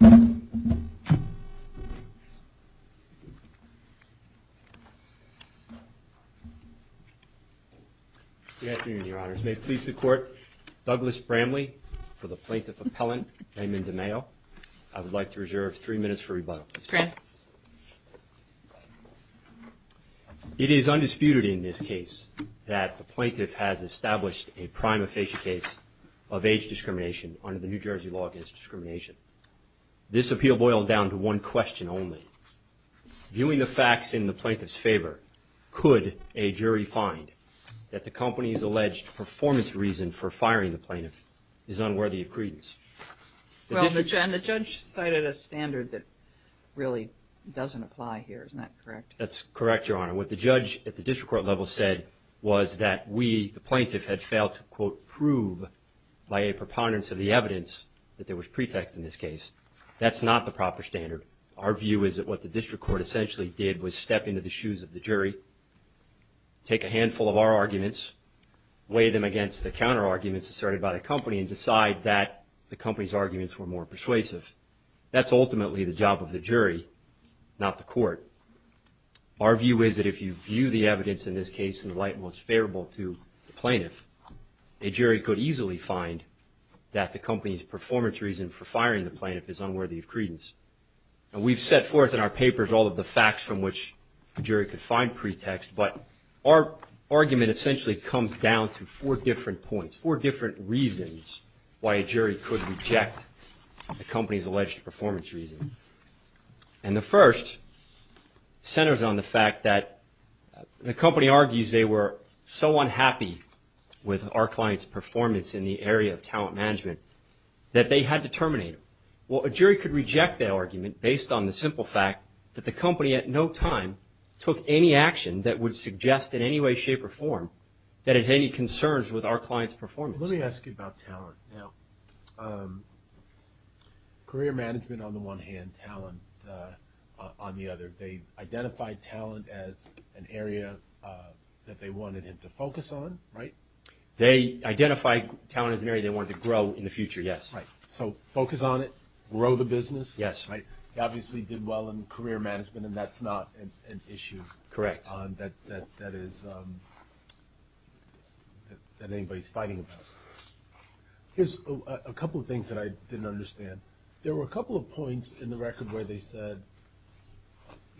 Good afternoon, your honors. May it please the court, Douglas Bramley for the Plaintiff Appellant, Raymond DeMaio. I would like to reserve three minutes for rebuttal. It is undisputed in this case that the Plaintiff has established a prime official case of age discrimination. This appeal boils down to one question only. Viewing the facts in the Plaintiff's favor, could a jury find that the company's alleged performance reason for firing the Plaintiff is unworthy of credence? Well, and the judge cited a standard that really doesn't apply here, isn't that correct? That's correct, your honor. What the judge at the district court level said was that we, the Plaintiff, had failed to quote prove by a preponderance of the evidence that there was pretext in this case. That's not the proper standard. Our view is that what the district court essentially did was step into the shoes of the jury, take a handful of our arguments, weigh them against the counter arguments asserted by the company, and decide that the company's arguments were more persuasive. That's ultimately the job of the jury, not the court. Our view is that if you view the facts, you could easily find that the company's performance reason for firing the Plaintiff is unworthy of credence. And we've set forth in our papers all of the facts from which the jury could find pretext, but our argument essentially comes down to four different points, four different reasons why a jury could reject the company's alleged performance reason. And the first centers on the fact that the company argues they were so unhappy with our client's performance in the area of talent management that they had to terminate him. Well, a jury could reject that argument based on the simple fact that the company at no time took any action that would suggest in any way, shape, or form that it had any concerns with our client's performance. Let me ask you about talent now. Career management on the one hand, talent on the other. They identified talent as an area that they wanted him to focus on, right? They identified talent as an area they wanted to grow in the future, yes. So focus on it, grow the business? Yes. He obviously did well in career management and that's not an issue that anybody's fighting about. Here's a couple of things that I didn't understand. There were a couple of points in the record where they said,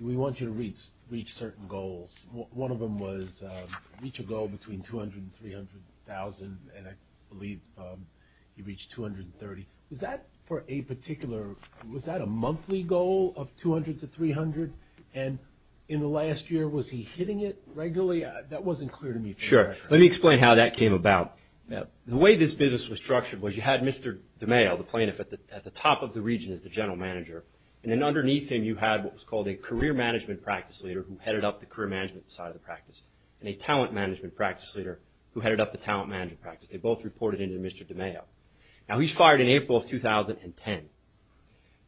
we want you to reach certain goals. One of them was reach a goal between 200,000 and 300,000 and I believe he reached 230,000. Was that a monthly goal of 200,000 to 300,000? And in the last year, was he hitting it regularly? That wasn't clear to me. Sure. Let me explain how that came about. The way this business was structured was you had Mr. DeMayo, the plaintiff at the top of the region as the general manager. And then underneath him, you had what was called a career management practice leader who headed up the career management side of the practice and a talent management practice leader who headed up the talent management practice. They both reported into Mr. DeMayo. Now he's fired in April of 2010.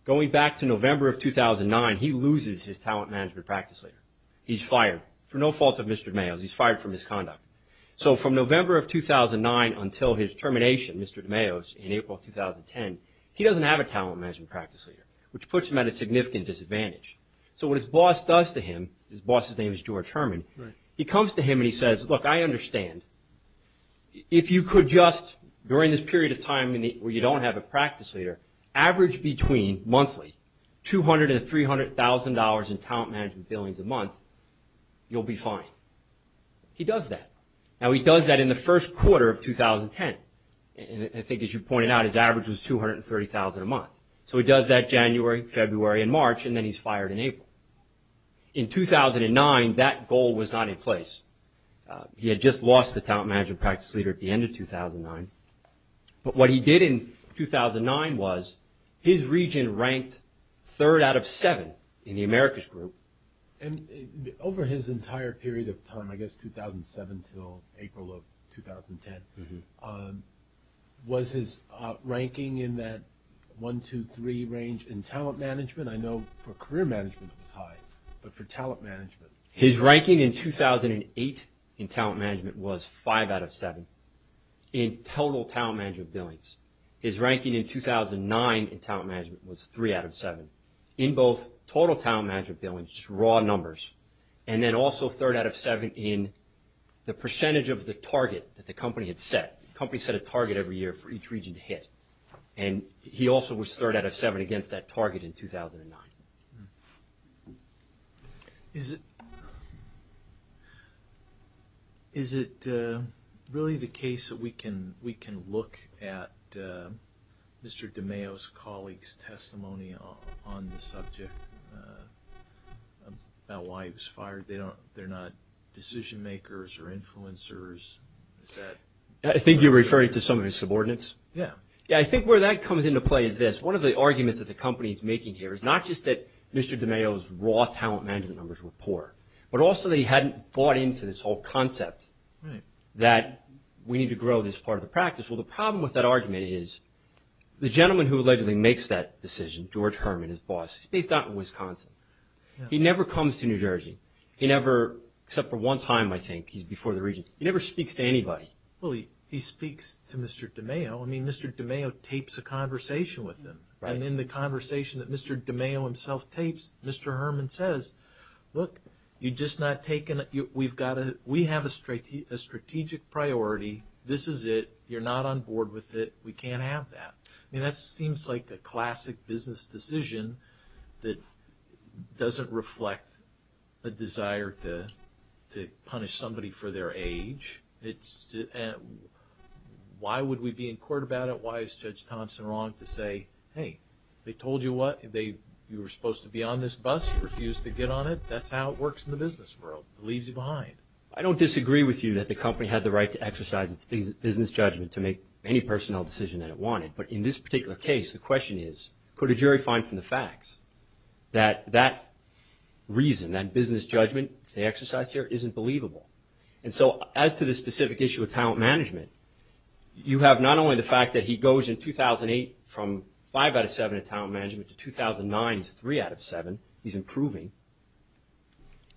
Going back to November of 2009, he loses his talent management practice leader. He's fired for no fault of Mr. DeMayo's. He's fired for misconduct. So from November of 2009 until his termination, Mr. DeMayo's, in April of 2010, he doesn't have a talent management practice leader, which puts him at a significant disadvantage. So what his boss does to him, his boss's name is George Herman, he comes to him and he says, look, I understand. If you could just, during this period of time where you don't have a practice leader, average between, monthly, $200,000 and $300,000 in talent management billions a month, you'll be fine. He does that. Now he does that in the first quarter of 2010. And I think as you pointed out, his average was $230,000 a month. So he does that and he's fired in April. In 2009, that goal was not in place. He had just lost the talent management practice leader at the end of 2009. But what he did in 2009 was his region ranked third out of seven in the America's group. And over his entire period of time, I guess 2007 until April of 2010, was his ranking in that one, two, three range in talent management? I know for career management it was high, but for talent management? His ranking in 2008 in talent management was five out of seven in total talent management billions. His ranking in 2009 in talent management was three out of seven in both total talent management billions, just raw numbers, and then also third out of seven in the percentage of the target that the company had set. The company set a target every year for each region to hit. And he also was third out of seven against that target in 2009. Is it really the case that we can look at Mr. DiMaio's colleagues' testimony on the subject about why he was fired? They're not decision makers or influencers? I think you're referring to some of his subordinates? Yeah. I think where that comes into play is this. One of the arguments that the company is making here is not just that Mr. DiMaio's raw talent management numbers were poor, but also that he hadn't bought into this whole concept that we need to grow this part of the practice. Well, the problem with that argument is the gentleman who allegedly makes that decision, George Herman, his boss, he's based out in Wisconsin. He never comes to New Jersey, except for one time, I think. He's before the region. He never speaks to anybody. He speaks to Mr. DiMaio. Mr. DiMaio tapes a conversation with him. And in the conversation that Mr. DiMaio himself tapes, Mr. Herman says, look, we have a strategic priority. This is it. You're not on board with it. We can't have that. That seems like a classic business decision that doesn't reflect a desire to punish somebody for their age. Why would we be in court about it? Why is Judge Thompson wrong to say, hey, they told you what? You were supposed to be on this bus. You refused to get on it. That's how it works in the business world. It leaves you behind. I don't disagree with you that the company had the right to exercise its business judgment to make any personnel decision that it wanted. But in this particular case, the question is, could a jury find from the facts that that reason, that business judgment they exercised here isn't believable? And so as to the specific issue of talent management, you have not only the fact that he goes in 2008 from 5 out of 7 in talent management to 2009, he's 3 out of 7. He's improving.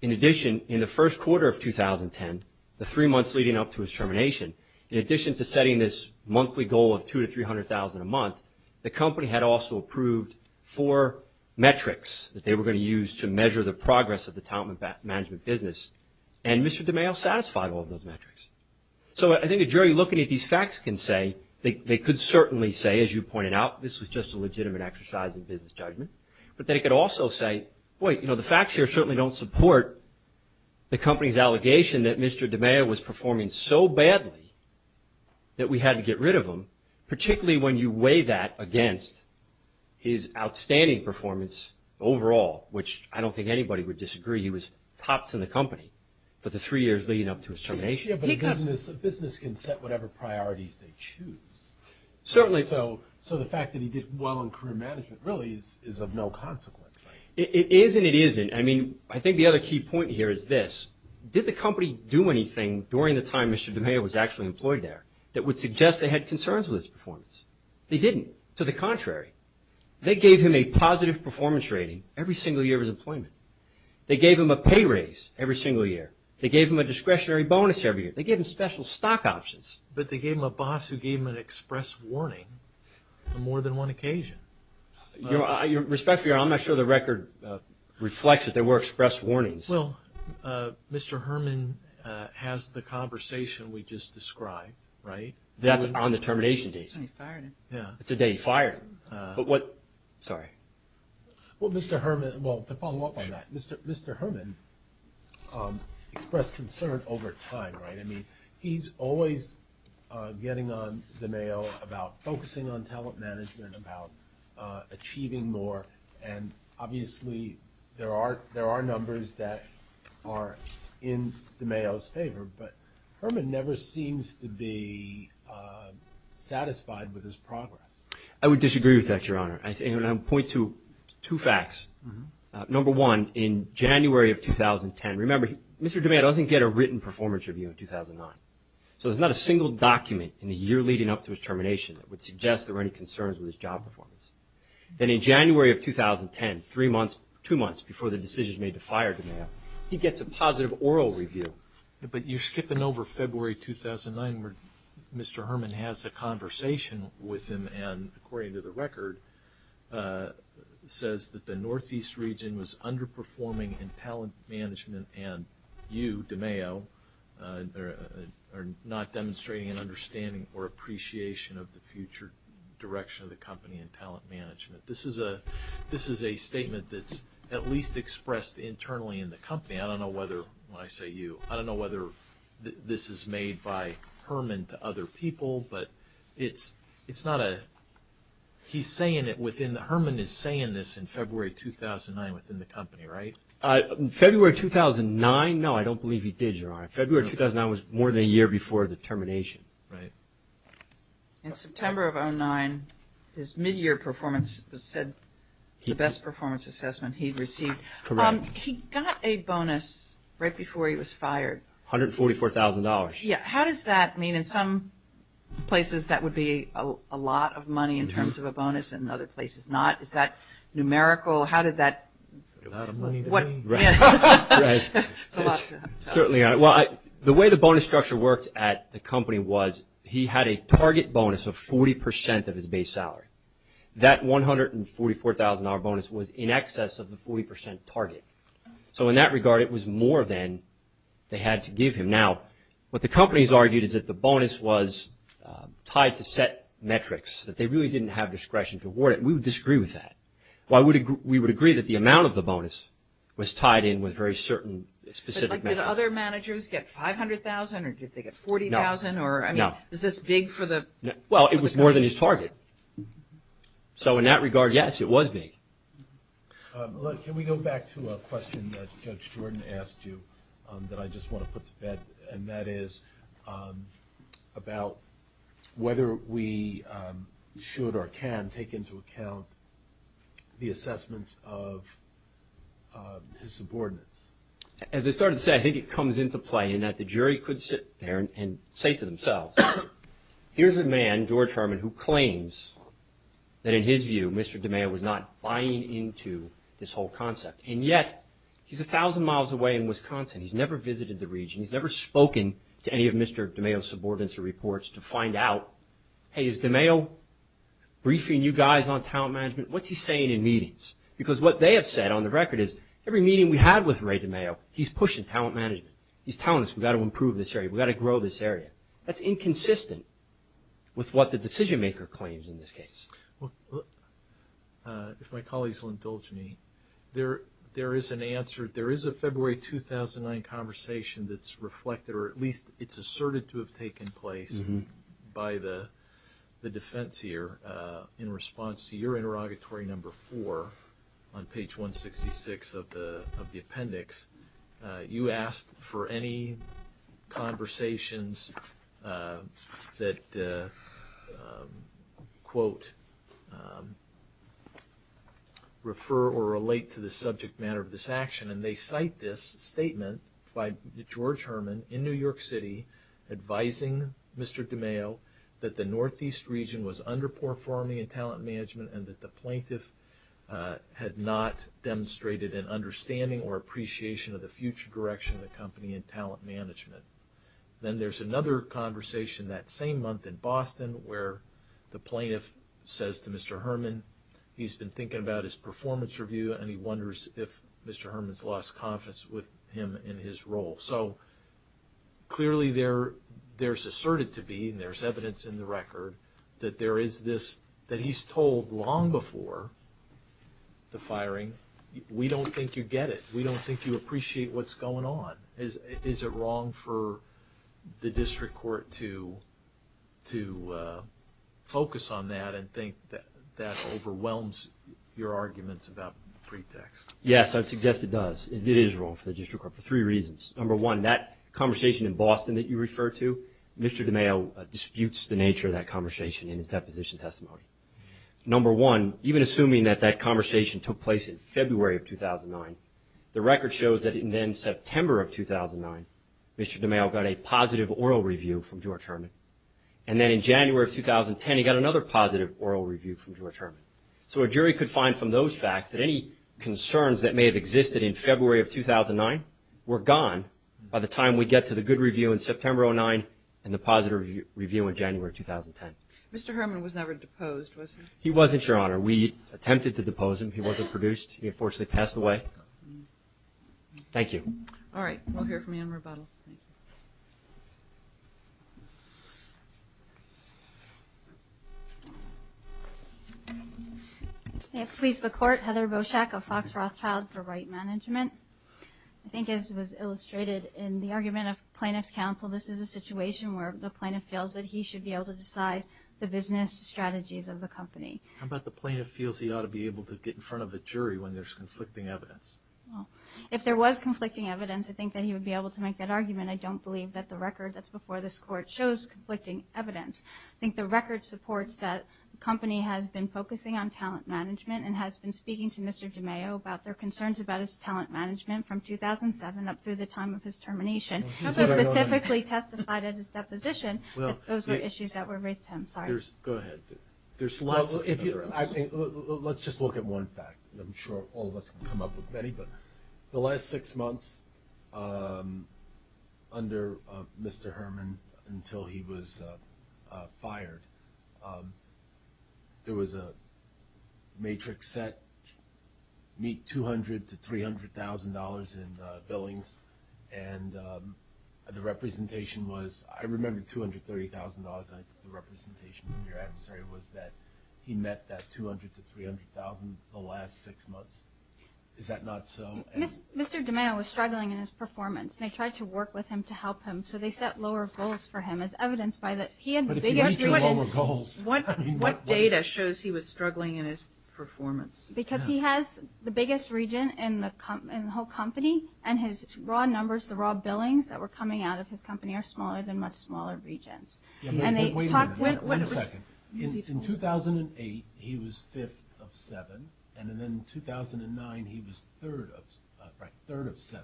In addition, in the first quarter of 2010, the three months leading up to his termination, in addition to setting this monthly goal of $200,000 to $300,000 a month, the company had also approved four metrics that they were going to use to measure the progress of the talent management business. And Mr. DiMeo satisfied all of those metrics. So I think a jury looking at these facts can say, they could certainly say, as you pointed out, this was just a legitimate exercise in business judgment. But they could also say, boy, you know, the facts here certainly don't support the company's allegation that Mr. DiMeo was performing so badly that we had to get rid of him, particularly when you weigh that against his outstanding performance overall, which I don't think anybody would disagree. He was tops in the company for the three years leading up to his termination. Yeah, but a business can set whatever priorities they choose. Certainly. So the fact that he did well in career management really is of no consequence, right? It is and it isn't. I mean, I think the other key point here is this. Did the company do anything during the time Mr. DiMeo was actually employed there that would suggest they had concerns with his performance? They didn't. To the contrary. They gave him a positive performance rating every single year of his employment. They gave him a pay raise every single year. They gave him a discretionary bonus every year. They gave him special stock options. But they gave him a boss who gave him an express warning on more than one occasion. Your respect for your honor, I'm not sure the record reflects that there were express warnings. Well, Mr. Herman has the conversation we just described, right? That's on the termination date. That's when he fired him. It's the day he fired him. Sorry. Well, Mr. Herman, well, to follow up on that, Mr. Herman expressed concern over time, right? I mean, he's always getting on DiMeo about focusing on talent management, about achieving more, and obviously there are numbers that are in DiMeo's favor, but Herman never seems to be satisfied with his progress. I would disagree with that, your honor. I would point to two facts. Number one, in January of 2010, remember, Mr. DiMeo doesn't get a written performance review in 2009. So there's not a single document in the year leading up to his termination that would suggest there In January of 2010, three months, two months before the decisions made to fire DiMeo, he gets a positive oral review. But you're skipping over February 2009 where Mr. Herman has a conversation with him and according to the record, says that the Northeast region was underperforming in talent management and you, DiMeo, are not demonstrating an understanding or appreciation of the future direction of the company in talent management. This is a statement that's at least expressed internally in the company. I don't know whether, when I say you, I don't know whether this is made by Herman to other people, but it's not a, he's saying it within, Herman is saying this in February 2009 within the company, right? February 2009? No, I don't believe he did, your honor. February 2009 was more than a year before the termination. In September of 2009, his mid-year performance was said to be the best performance assessment he'd received. Correct. He got a bonus right before he was fired. $144,000. Yeah, how does that mean in some places that would be a lot of money in terms of a bonus and other places not? Is that numerical? How did that? It's a lot of money. Right. It's a lot. Certainly. Well, the way the bonus structure worked at the company was he had a target bonus of 40% of his base salary. That $144,000 bonus was in excess of the 40% target. So in that regard, it was more than they had to give him. Now, what the company has argued is that the bonus was tied to set metrics, that they really didn't have discretion to was tied in with very certain specific metrics. But did other managers get $500,000 or did they get $40,000? No. I mean, is this big for the company? Well, it was more than his target. So in that regard, yes, it was big. Look, can we go back to a question that Judge Jordan asked you that I just want to put to about whether we should or can take into account the assessments of his subordinates? As I started to say, I think it comes into play in that the jury could sit there and say to themselves, here's a man, George Herman, who claims that in his view, Mr. DiMeo was not buying into this whole concept. And yet, he's 1,000 miles away in Wisconsin. He's never visited the region. He's never spoken to any of Mr. DiMeo's subordinates or reports to find out, hey, is DiMeo briefing you guys on talent management? What's he saying in meetings? Because what they have said on the record is every meeting we had with Ray DiMeo, he's pushing talent management. He's telling us we've got to improve this area. We've got to grow this area. That's inconsistent with what the decision-maker claims in this case. If my colleagues will indulge me, there is an answer. There is a February 2009 conversation that's reflected or at least it's asserted to have taken place by the defense here in response to your interrogatory number four on page 166 of the appendix. You asked for any conversations that, quote, refer or relate to the subject matter of this action, and they cite this statement by George Herman in New York City advising Mr. DiMeo that the Northeast region was underperforming in talent management and that the plaintiff had not demonstrated an understanding or appreciation of the future direction of the company in talent management. Then there's another conversation that same month in Boston where the plaintiff says to Mr. Herman he's been thinking about his performance review and he wonders if Mr. Herman's lost confidence with him in his role. So clearly there's asserted to be and there's evidence in the record that there is this that he's told long before the firing we don't think you get it. We don't think you appreciate what's going on. Is it wrong for the district court to focus on that and think that overwhelms your arguments about pretext? Yes, I would suggest it does. It is wrong for the district court for three reasons. Number one, that conversation in Boston that you refer to, Mr. DiMeo disputes the nature of that conversation in his deposition testimony. Number one, even assuming that that conversation took place in February of 2009, the record shows that in September of 2009 Mr. DiMeo got a positive oral review from George Herman and then in January of 2010 he got another positive oral review from George Herman. So a jury could find from those facts that any concerns that may have existed in February of 2009 were gone by the time we get to the good review in September of 2009 and the positive review in January of 2010. Mr. Herman was never deposed, was he? He wasn't, Your Honor. We attempted to depose him. He wasn't produced. He unfortunately passed away. Thank you. All right. We'll hear from you in rebuttal. Thank you. May it please the Court. Heather Boschak of Fox Rothschild for Right Management. I think as was illustrated in the argument of plaintiff's counsel, this is a situation where the plaintiff feels that he should be able to decide the business strategies of the company. How about the plaintiff feels he ought to be able to get in front of the jury when there's conflicting evidence? If there was conflicting evidence, I think that he would be able to make that argument. I don't believe that the record that's before this Court shows conflicting evidence. I think the record supports that the company has been focusing on talent management and has been speaking to Mr. DiMaio about their concerns about his talent management from 2007 up through the time of his termination. He specifically testified at his deposition that those were issues that were raised to him. Sorry. Go ahead. There's lots of other issues. Let's just look at one fact. I'm sure all of us can come up with many. The last six months under Mr. Herman until he was fired, there was a matrix set meet $200,000 to $300,000 in billings, and the representation was I remember $230,000. I think the representation from your adversary was that he met that $200,000 to $300,000 the last six months. Is that not so? Mr. DiMaio was struggling in his performance, and they tried to work with him to help him, so they set lower goals for him as evidenced by that he had the biggest region. What data shows he was struggling in his performance? Because he has the biggest region in the whole company, and his raw numbers, the raw billings that were coming out of his company are smaller than much smaller regions. Wait a second. In 2008, he was fifth of seven, and then in 2009, he was third of seven.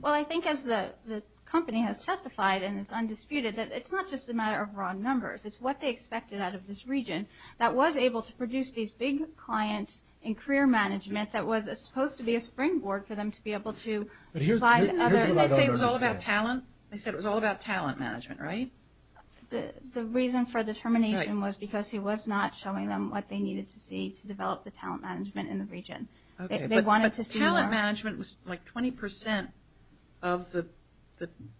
Well, I think as the company has testified, and it's undisputed, that it's not just a matter of raw numbers. It's what they expected out of this region that was able to produce these big clients and career management that was supposed to be a springboard for them to be able to supply the other. Didn't they say it was all about talent? They said it was all about talent management, right? The reason for the termination was because he was not showing them what they needed to see to develop the talent management in the region. But talent management was like 20% of the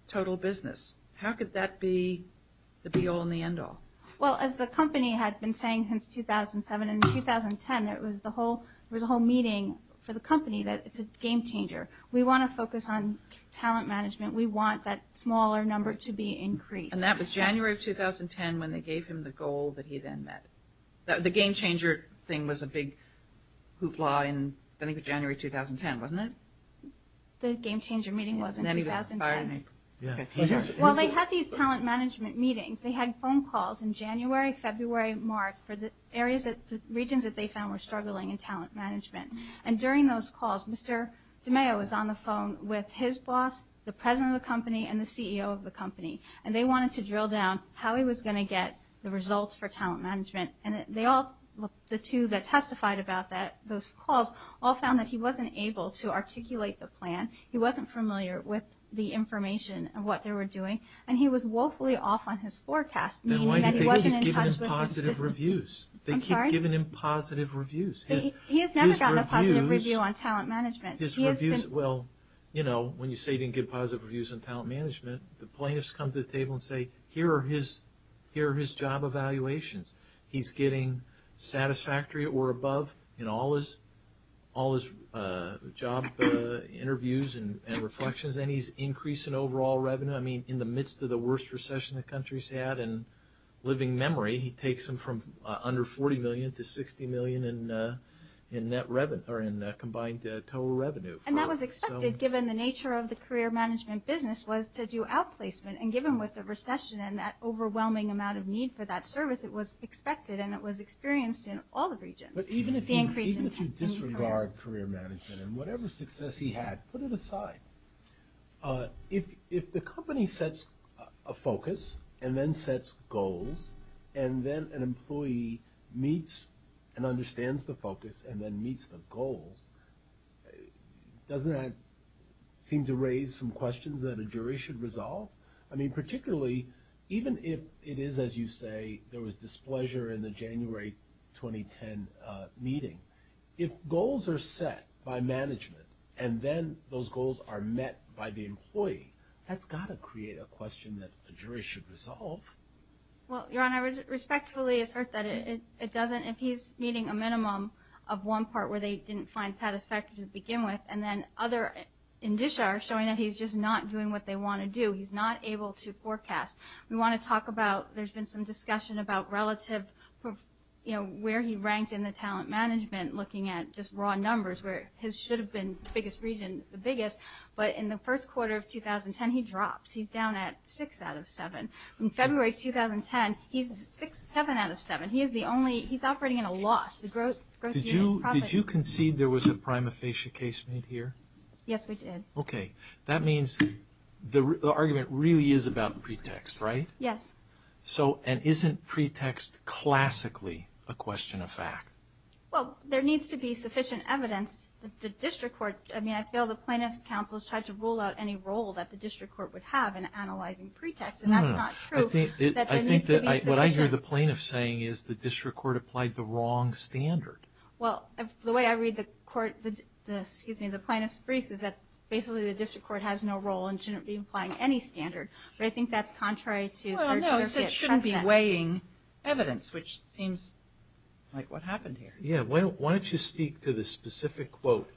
total business. How could that be the be-all and the end-all? Well, as the company had been saying since 2007 and 2010, it was the whole meeting for the company that it's a game changer. We want to focus on talent management. We want that smaller number to be increased. And that was January of 2010 when they gave him the goal that he then met. The game changer thing was a big hoopla in, I think, January 2010, wasn't it? The game changer meeting was in 2010. And then he was fired in April. Well, they had these talent management meetings. They had phone calls in January, February, March, for the regions that they found were struggling in talent management. And during those calls, Mr. DeMeo was on the phone with his boss, the president of the company, and the CEO of the company. And they wanted to drill down how he was going to get the results for talent management. And the two that testified about those calls all found that he wasn't able to articulate the plan. He wasn't familiar with the information of what they were doing. And he was woefully off on his forecast, meaning that he wasn't in touch with his business. Then why do they keep giving him positive reviews? I'm sorry? They keep giving him positive reviews. He has never gotten a positive review on talent management. Well, you know, when you say you didn't get positive reviews on talent management, the plaintiffs come to the table and say, here are his job evaluations. He's getting satisfactory or above in all his job interviews and reflections. And he's increasing overall revenue. I mean, in the midst of the worst recession the country's had, he takes them from under $40 million to $60 million in combined total revenue. And that was expected, given the nature of the career management business, was to do outplacement. And given what the recession and that overwhelming amount of need for that service, it was expected and it was experienced in all the regions. But even if you disregard career management and whatever success he had, put it aside. If the company sets a focus and then sets goals and then an employee meets and understands the focus and then meets the goals, doesn't that seem to raise some questions that a jury should resolve? I mean, particularly even if it is, as you say, there was displeasure in the January 2010 meeting, if goals are set by management and then those goals are met by the employee, that's got to create a question that a jury should resolve. Well, Your Honor, I respectfully assert that it doesn't. If he's meeting a minimum of one part where they didn't find satisfactory to begin with and then other indicia are showing that he's just not doing what they want to do, he's not able to forecast. We want to talk about, there's been some discussion about relative, you know, where he ranks in the talent management looking at just raw numbers where his should have been biggest region, the biggest. But in the first quarter of 2010, he drops. He's down at six out of seven. In February 2010, he's seven out of seven. He is the only, he's operating at a loss. Did you concede there was a prima facie case made here? Yes, we did. Okay. That means the argument really is about pretext, right? Yes. So, and isn't pretext classically a question of fact? Well, there needs to be sufficient evidence that the district court, I mean, I feel the plaintiff's counsel has tried to rule out any role that the district court would have in analyzing pretext. And that's not true. I think that what I hear the plaintiff saying is the district court applied the wrong standard. Well, the way I read the court, excuse me, the plaintiff's briefs is that basically the district court has no role and shouldn't be applying any standard. But I think that's contrary to third circuit precedent. Well, no, it said shouldn't be weighing evidence, which seems like what happened here. Yeah. Why don't you speak to the specific quote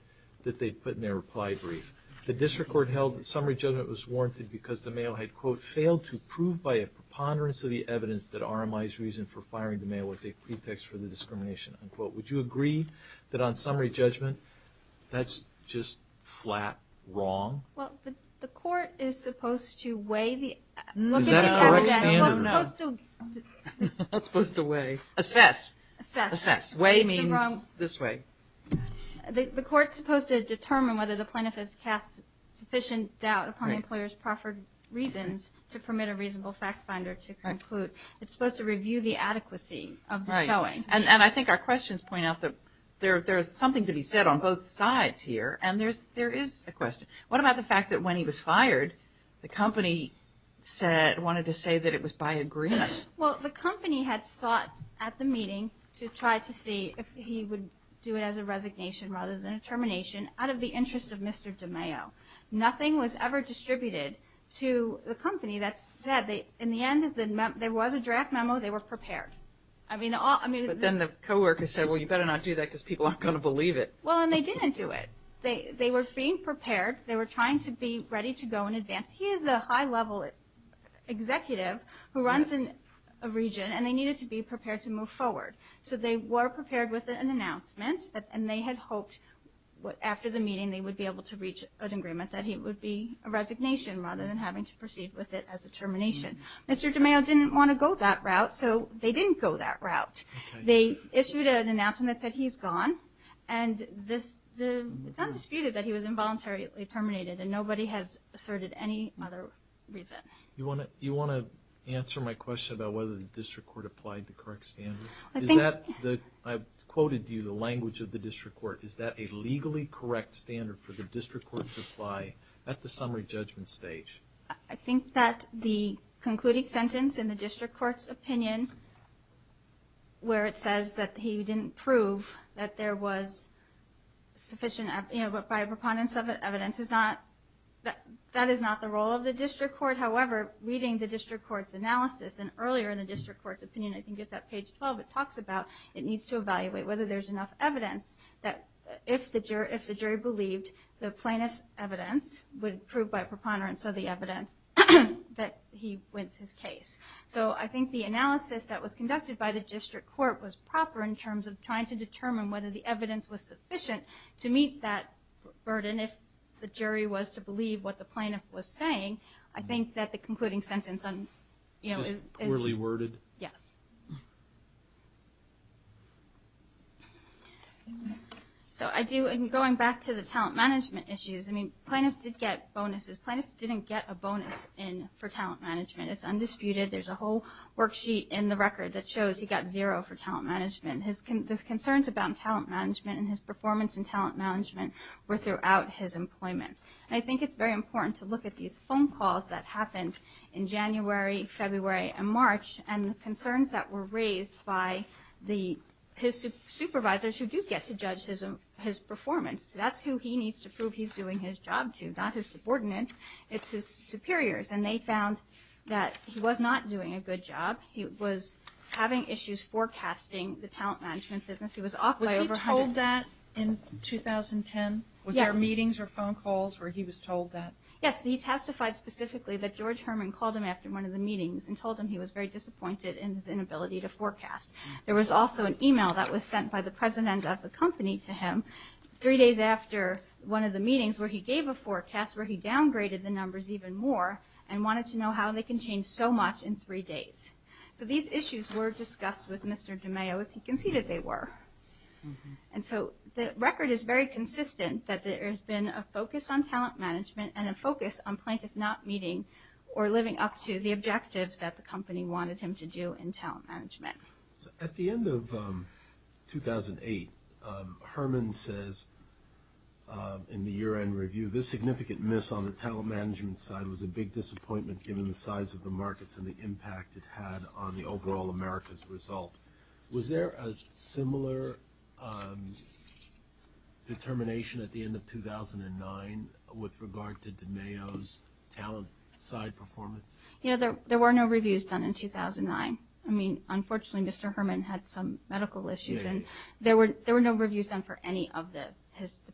that they put in their reply brief? The district court held that summary judgment was warranted because the mail had, quote, failed to prove by a preponderance of the evidence that RMI's reason for firing the mail was a pretext for the discrimination, unquote. Would you agree that on summary judgment, that's just flat wrong? Well, the court is supposed to weigh the evidence. No. Is that a correct standard? No. It's supposed to weigh. Assess. Assess. Assess. Weigh means this way. The court's supposed to determine whether the plaintiff has cast sufficient doubt upon the employer's proffered reasons to permit a reasonable fact finder to conclude. It's supposed to review the adequacy of the showing. Right. And I think our questions point out that there is something to be said on both sides here. And there is a question. What about the fact that when he was fired, the company wanted to say that it was by agreement? Well, the company had sought at the meeting to try to see if he would do it as a resignation rather than a termination out of the interest of Mr. DeMeo. Nothing was ever distributed to the company that said in the end there was a draft memo, they were prepared. But then the coworkers said, well, you better not do that because people aren't going to believe it. Well, and they didn't do it. They were being prepared. They were trying to be ready to go in advance. He is a high-level executive who runs a region, and they needed to be prepared to move forward. So they were prepared with an announcement, and they had hoped after the meeting they would be able to reach an agreement that it would be a resignation rather than having to proceed with it as a termination. Mr. DeMeo didn't want to go that route, so they didn't go that route. They issued an announcement that said he's gone, and it's undisputed that he was involuntarily terminated, and nobody has asserted any other reason. Do you want to answer my question about whether the district court applied the correct standard? I quoted to you the language of the district court. Is that a legally correct standard for the district court to apply at the summary judgment stage? I think that the concluding sentence in the district court's opinion where it says that he didn't prove that there was sufficient evidence by a preponderance of evidence, that is not the role of the district court. However, reading the district court's analysis and earlier in the district court's opinion, I think it's at page 12, it talks about it needs to evaluate whether there's enough evidence that if the jury believed the plaintiff's evidence would prove by preponderance of the evidence that he wins his case. So I think the analysis that was conducted by the district court was proper in terms of trying to determine whether the evidence was sufficient to meet that burden if the jury was to believe what the plaintiff was saying. I think that the concluding sentence is poorly worded. Yes. So I do, and going back to the talent management issues, I mean, plaintiff did get bonuses. Plaintiff didn't get a bonus for talent management. It's undisputed. There's a whole worksheet in the record that shows he got zero for talent management. His concerns about talent management and his performance in talent management were throughout his employment. And I think it's very important to look at these phone calls that happened in January, February, and March, and the concerns that were raised by his supervisors, who do get to judge his performance. So that's who he needs to prove he's doing his job to, not his subordinates, it's his superiors. And they found that he was not doing a good job. He was having issues forecasting the talent management business. He was off by over 100. Was he told that in 2010? Yes. Were there meetings or phone calls where he was told that? Yes. He testified specifically that George Herman called him after one of the meetings and told him he was very disappointed in his inability to forecast. There was also an email that was sent by the president of the company to him three days after one of the meetings where he gave a forecast where he downgraded the numbers even more and wanted to know how they can change so much in three days. So these issues were discussed with Mr. DeMeo as he conceded they were. And so the record is very consistent that there has been a focus on talent management and a focus on Plaintiff not meeting or living up to the objectives that the company wanted him to do in talent management. At the end of 2008, Herman says in the year-end review, this significant miss on the talent management side was a big disappointment given the size of the markets and the impact it had on the overall America's result. Was there a similar determination at the end of 2009 with regard to DeMeo's talent side performance? There were no reviews done in 2009. I mean, unfortunately, Mr. Herman had some medical issues, and there were no reviews done for any of the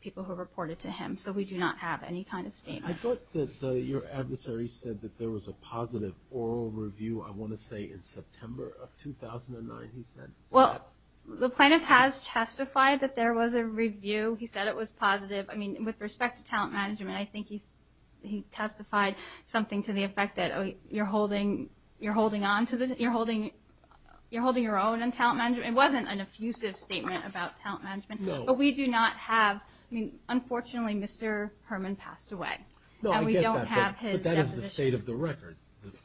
people who reported to him, so we do not have any kind of statement. I thought that your adversary said that there was a positive oral review, I want to say in September of 2009, he said. Well, the Plaintiff has testified that there was a review. He said it was positive. I mean, with respect to talent management, I think he testified something to the effect that you're holding your own in talent management. It wasn't an effusive statement about talent management. But we do not have – I mean, unfortunately, Mr. Herman passed away. No, I get that, but that is the state of the record,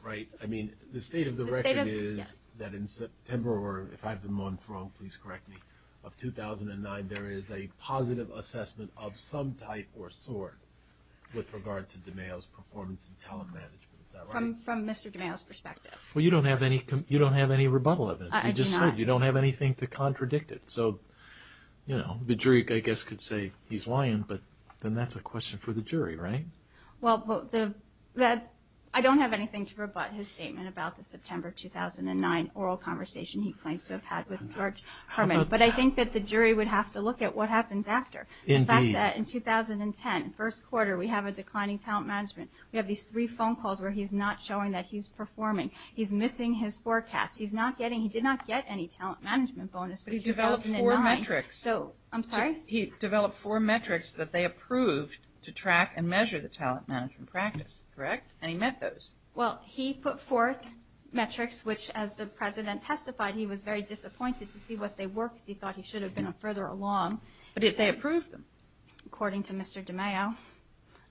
right? I mean, the state of the record is that in September, or if I have the month wrong, please correct me, of 2009, there is a positive assessment of some type or sort with regard to DeMeo's performance in talent management. Is that right? From Mr. DeMeo's perspective. Well, you don't have any rebuttal of this. I do not. You just said you don't have anything to contradict it. So, you know, the jury, I guess, could say he's lying, but then that's a question for the jury, right? Well, I don't have anything to rebut his statement about the September 2009 oral conversation he claims to have had with George Herman. But I think that the jury would have to look at what happens after. The fact that in 2010, first quarter, we have a declining talent management. We have these three phone calls where he's not showing that he's performing. He's missing his forecast. He's not getting – he did not get any talent management bonus, but in 2009 – He developed four metrics. I'm sorry? In 2009, he developed four metrics that they approved to track and measure the talent management practice, correct? And he met those. Well, he put forth metrics which, as the President testified, he was very disappointed to see what they were because he thought he should have been a further along. But they approved them. According to Mr. DeMeo.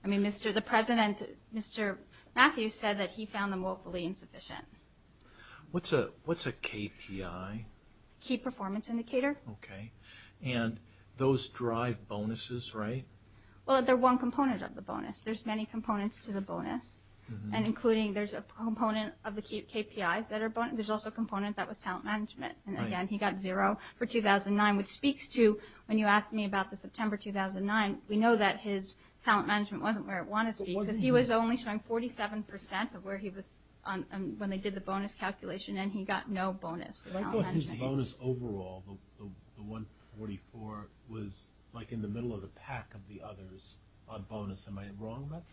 I mean, the President, Mr. Matthews, said that he found them woefully insufficient. What's a KPI? Key Performance Indicator. Okay. And those drive bonuses, right? Well, they're one component of the bonus. There's many components to the bonus, and including there's a component of the KPIs that are bonus. There's also a component that was talent management. And, again, he got zero for 2009, which speaks to – when you asked me about the September 2009, we know that his talent management wasn't where it wanted to be because he was only showing 47% of where he was when they did the bonus calculation, and he got no bonus for talent management. His bonus overall, the 144, was, like, in the middle of the pack of the others on bonus. Am I wrong about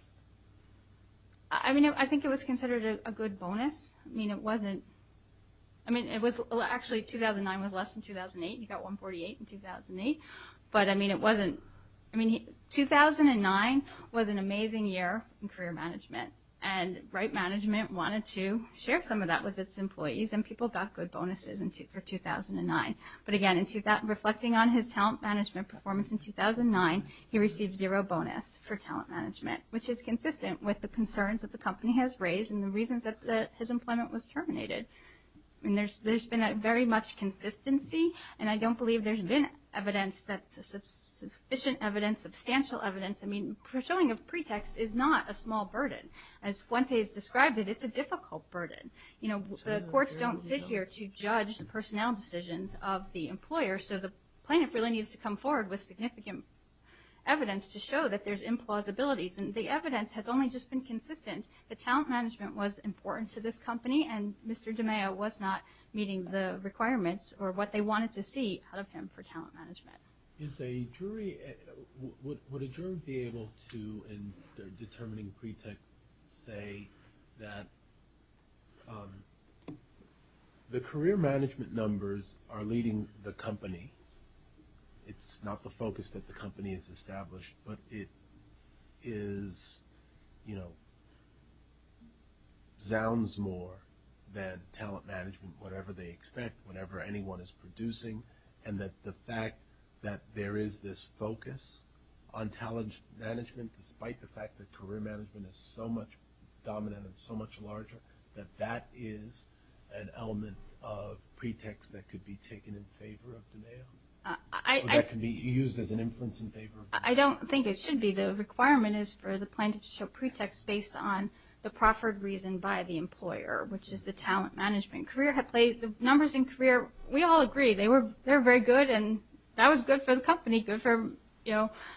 that? I mean, I think it was considered a good bonus. I mean, it wasn't – I mean, it was – actually, 2009 was less than 2008. He got 148 in 2008. But, I mean, it wasn't – I mean, 2009 was an amazing year in career management, and Wright Management wanted to share some of that with its employees, and people got good bonuses for 2009. But, again, reflecting on his talent management performance in 2009, he received zero bonus for talent management, which is consistent with the concerns that the company has raised and the reasons that his employment was terminated. I mean, there's been very much consistency, and I don't believe there's been evidence that – sufficient evidence, substantial evidence. I mean, showing a pretext is not a small burden. As Fuentes described it, it's a difficult burden. You know, the courts don't sit here to judge the personnel decisions of the employer, so the plaintiff really needs to come forward with significant evidence to show that there's implausibilities, and the evidence has only just been consistent. The talent management was important to this company, and Mr. DiMeo was not meeting the requirements or what they wanted to see out of him for talent management. Is a jury – would a jury be able to, in determining pretext, say that the career management numbers are leading the company? It's not the focus that the company has established, but it is – you know, zounds more than talent management, whatever they expect, whatever anyone is producing, and that the fact that there is this focus on talent management, despite the fact that career management is so much dominant and so much larger, that that is an element of pretext that could be taken in favor of DiMeo? Or that could be used as an influence in favor of DiMeo? I don't think it should be. The requirement is for the plaintiff to show pretext based on the proffered reason by the employer, which is the talent management. The numbers in career, we all agree, they're very good, and that was good for the company.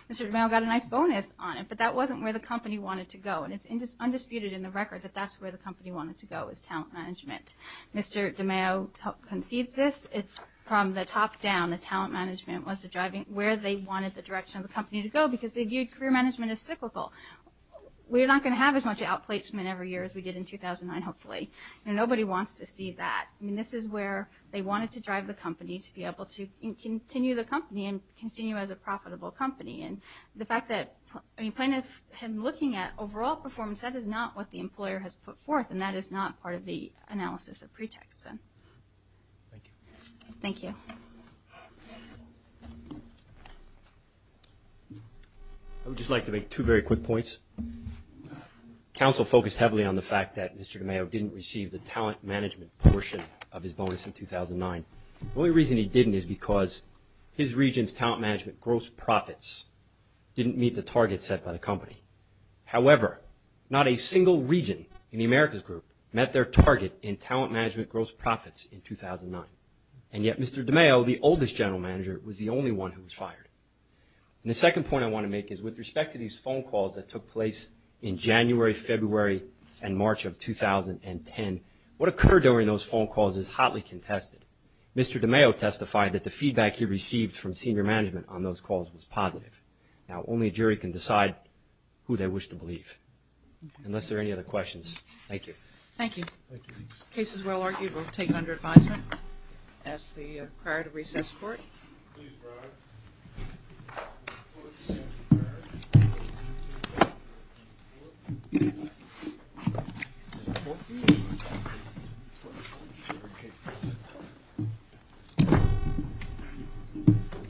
Mr. DiMeo got a nice bonus on it, but that wasn't where the company wanted to go, and it's undisputed in the record that that's where the company wanted to go, was talent management. Mr. DiMeo concedes this. It's from the top down that talent management was driving where they wanted the direction of the company to go, because they viewed career management as cyclical. We're not going to have as much outplacement every year as we did in 2009, hopefully. Nobody wants to see that. This is where they wanted to drive the company to be able to continue the company and continue as a profitable company. The fact that plaintiff had been looking at overall performance, that is not what the employer has put forth, and that is not part of the analysis of pretext. Thank you. Thank you. I would just like to make two very quick points. Council focused heavily on the fact that Mr. DiMeo didn't receive the talent management portion of his bonus in 2009. The only reason he didn't is because his region's talent management gross profits didn't meet the target set by the company. However, not a single region in the Americas Group met their target in talent management gross profits in 2009, and yet Mr. DiMeo, the oldest general manager, was the only one who was fired. The second point I want to make is with respect to these phone calls that took place in January, February, and March of 2010, what occurred during those phone calls is hotly contested. Mr. DiMeo testified that the feedback he received from senior management on those calls was positive. Now, only a jury can decide who they wish to believe. Unless there are any other questions, thank you. Thank you. The case is well argued. We'll take it under advisement as the prior to recess court. Please rise.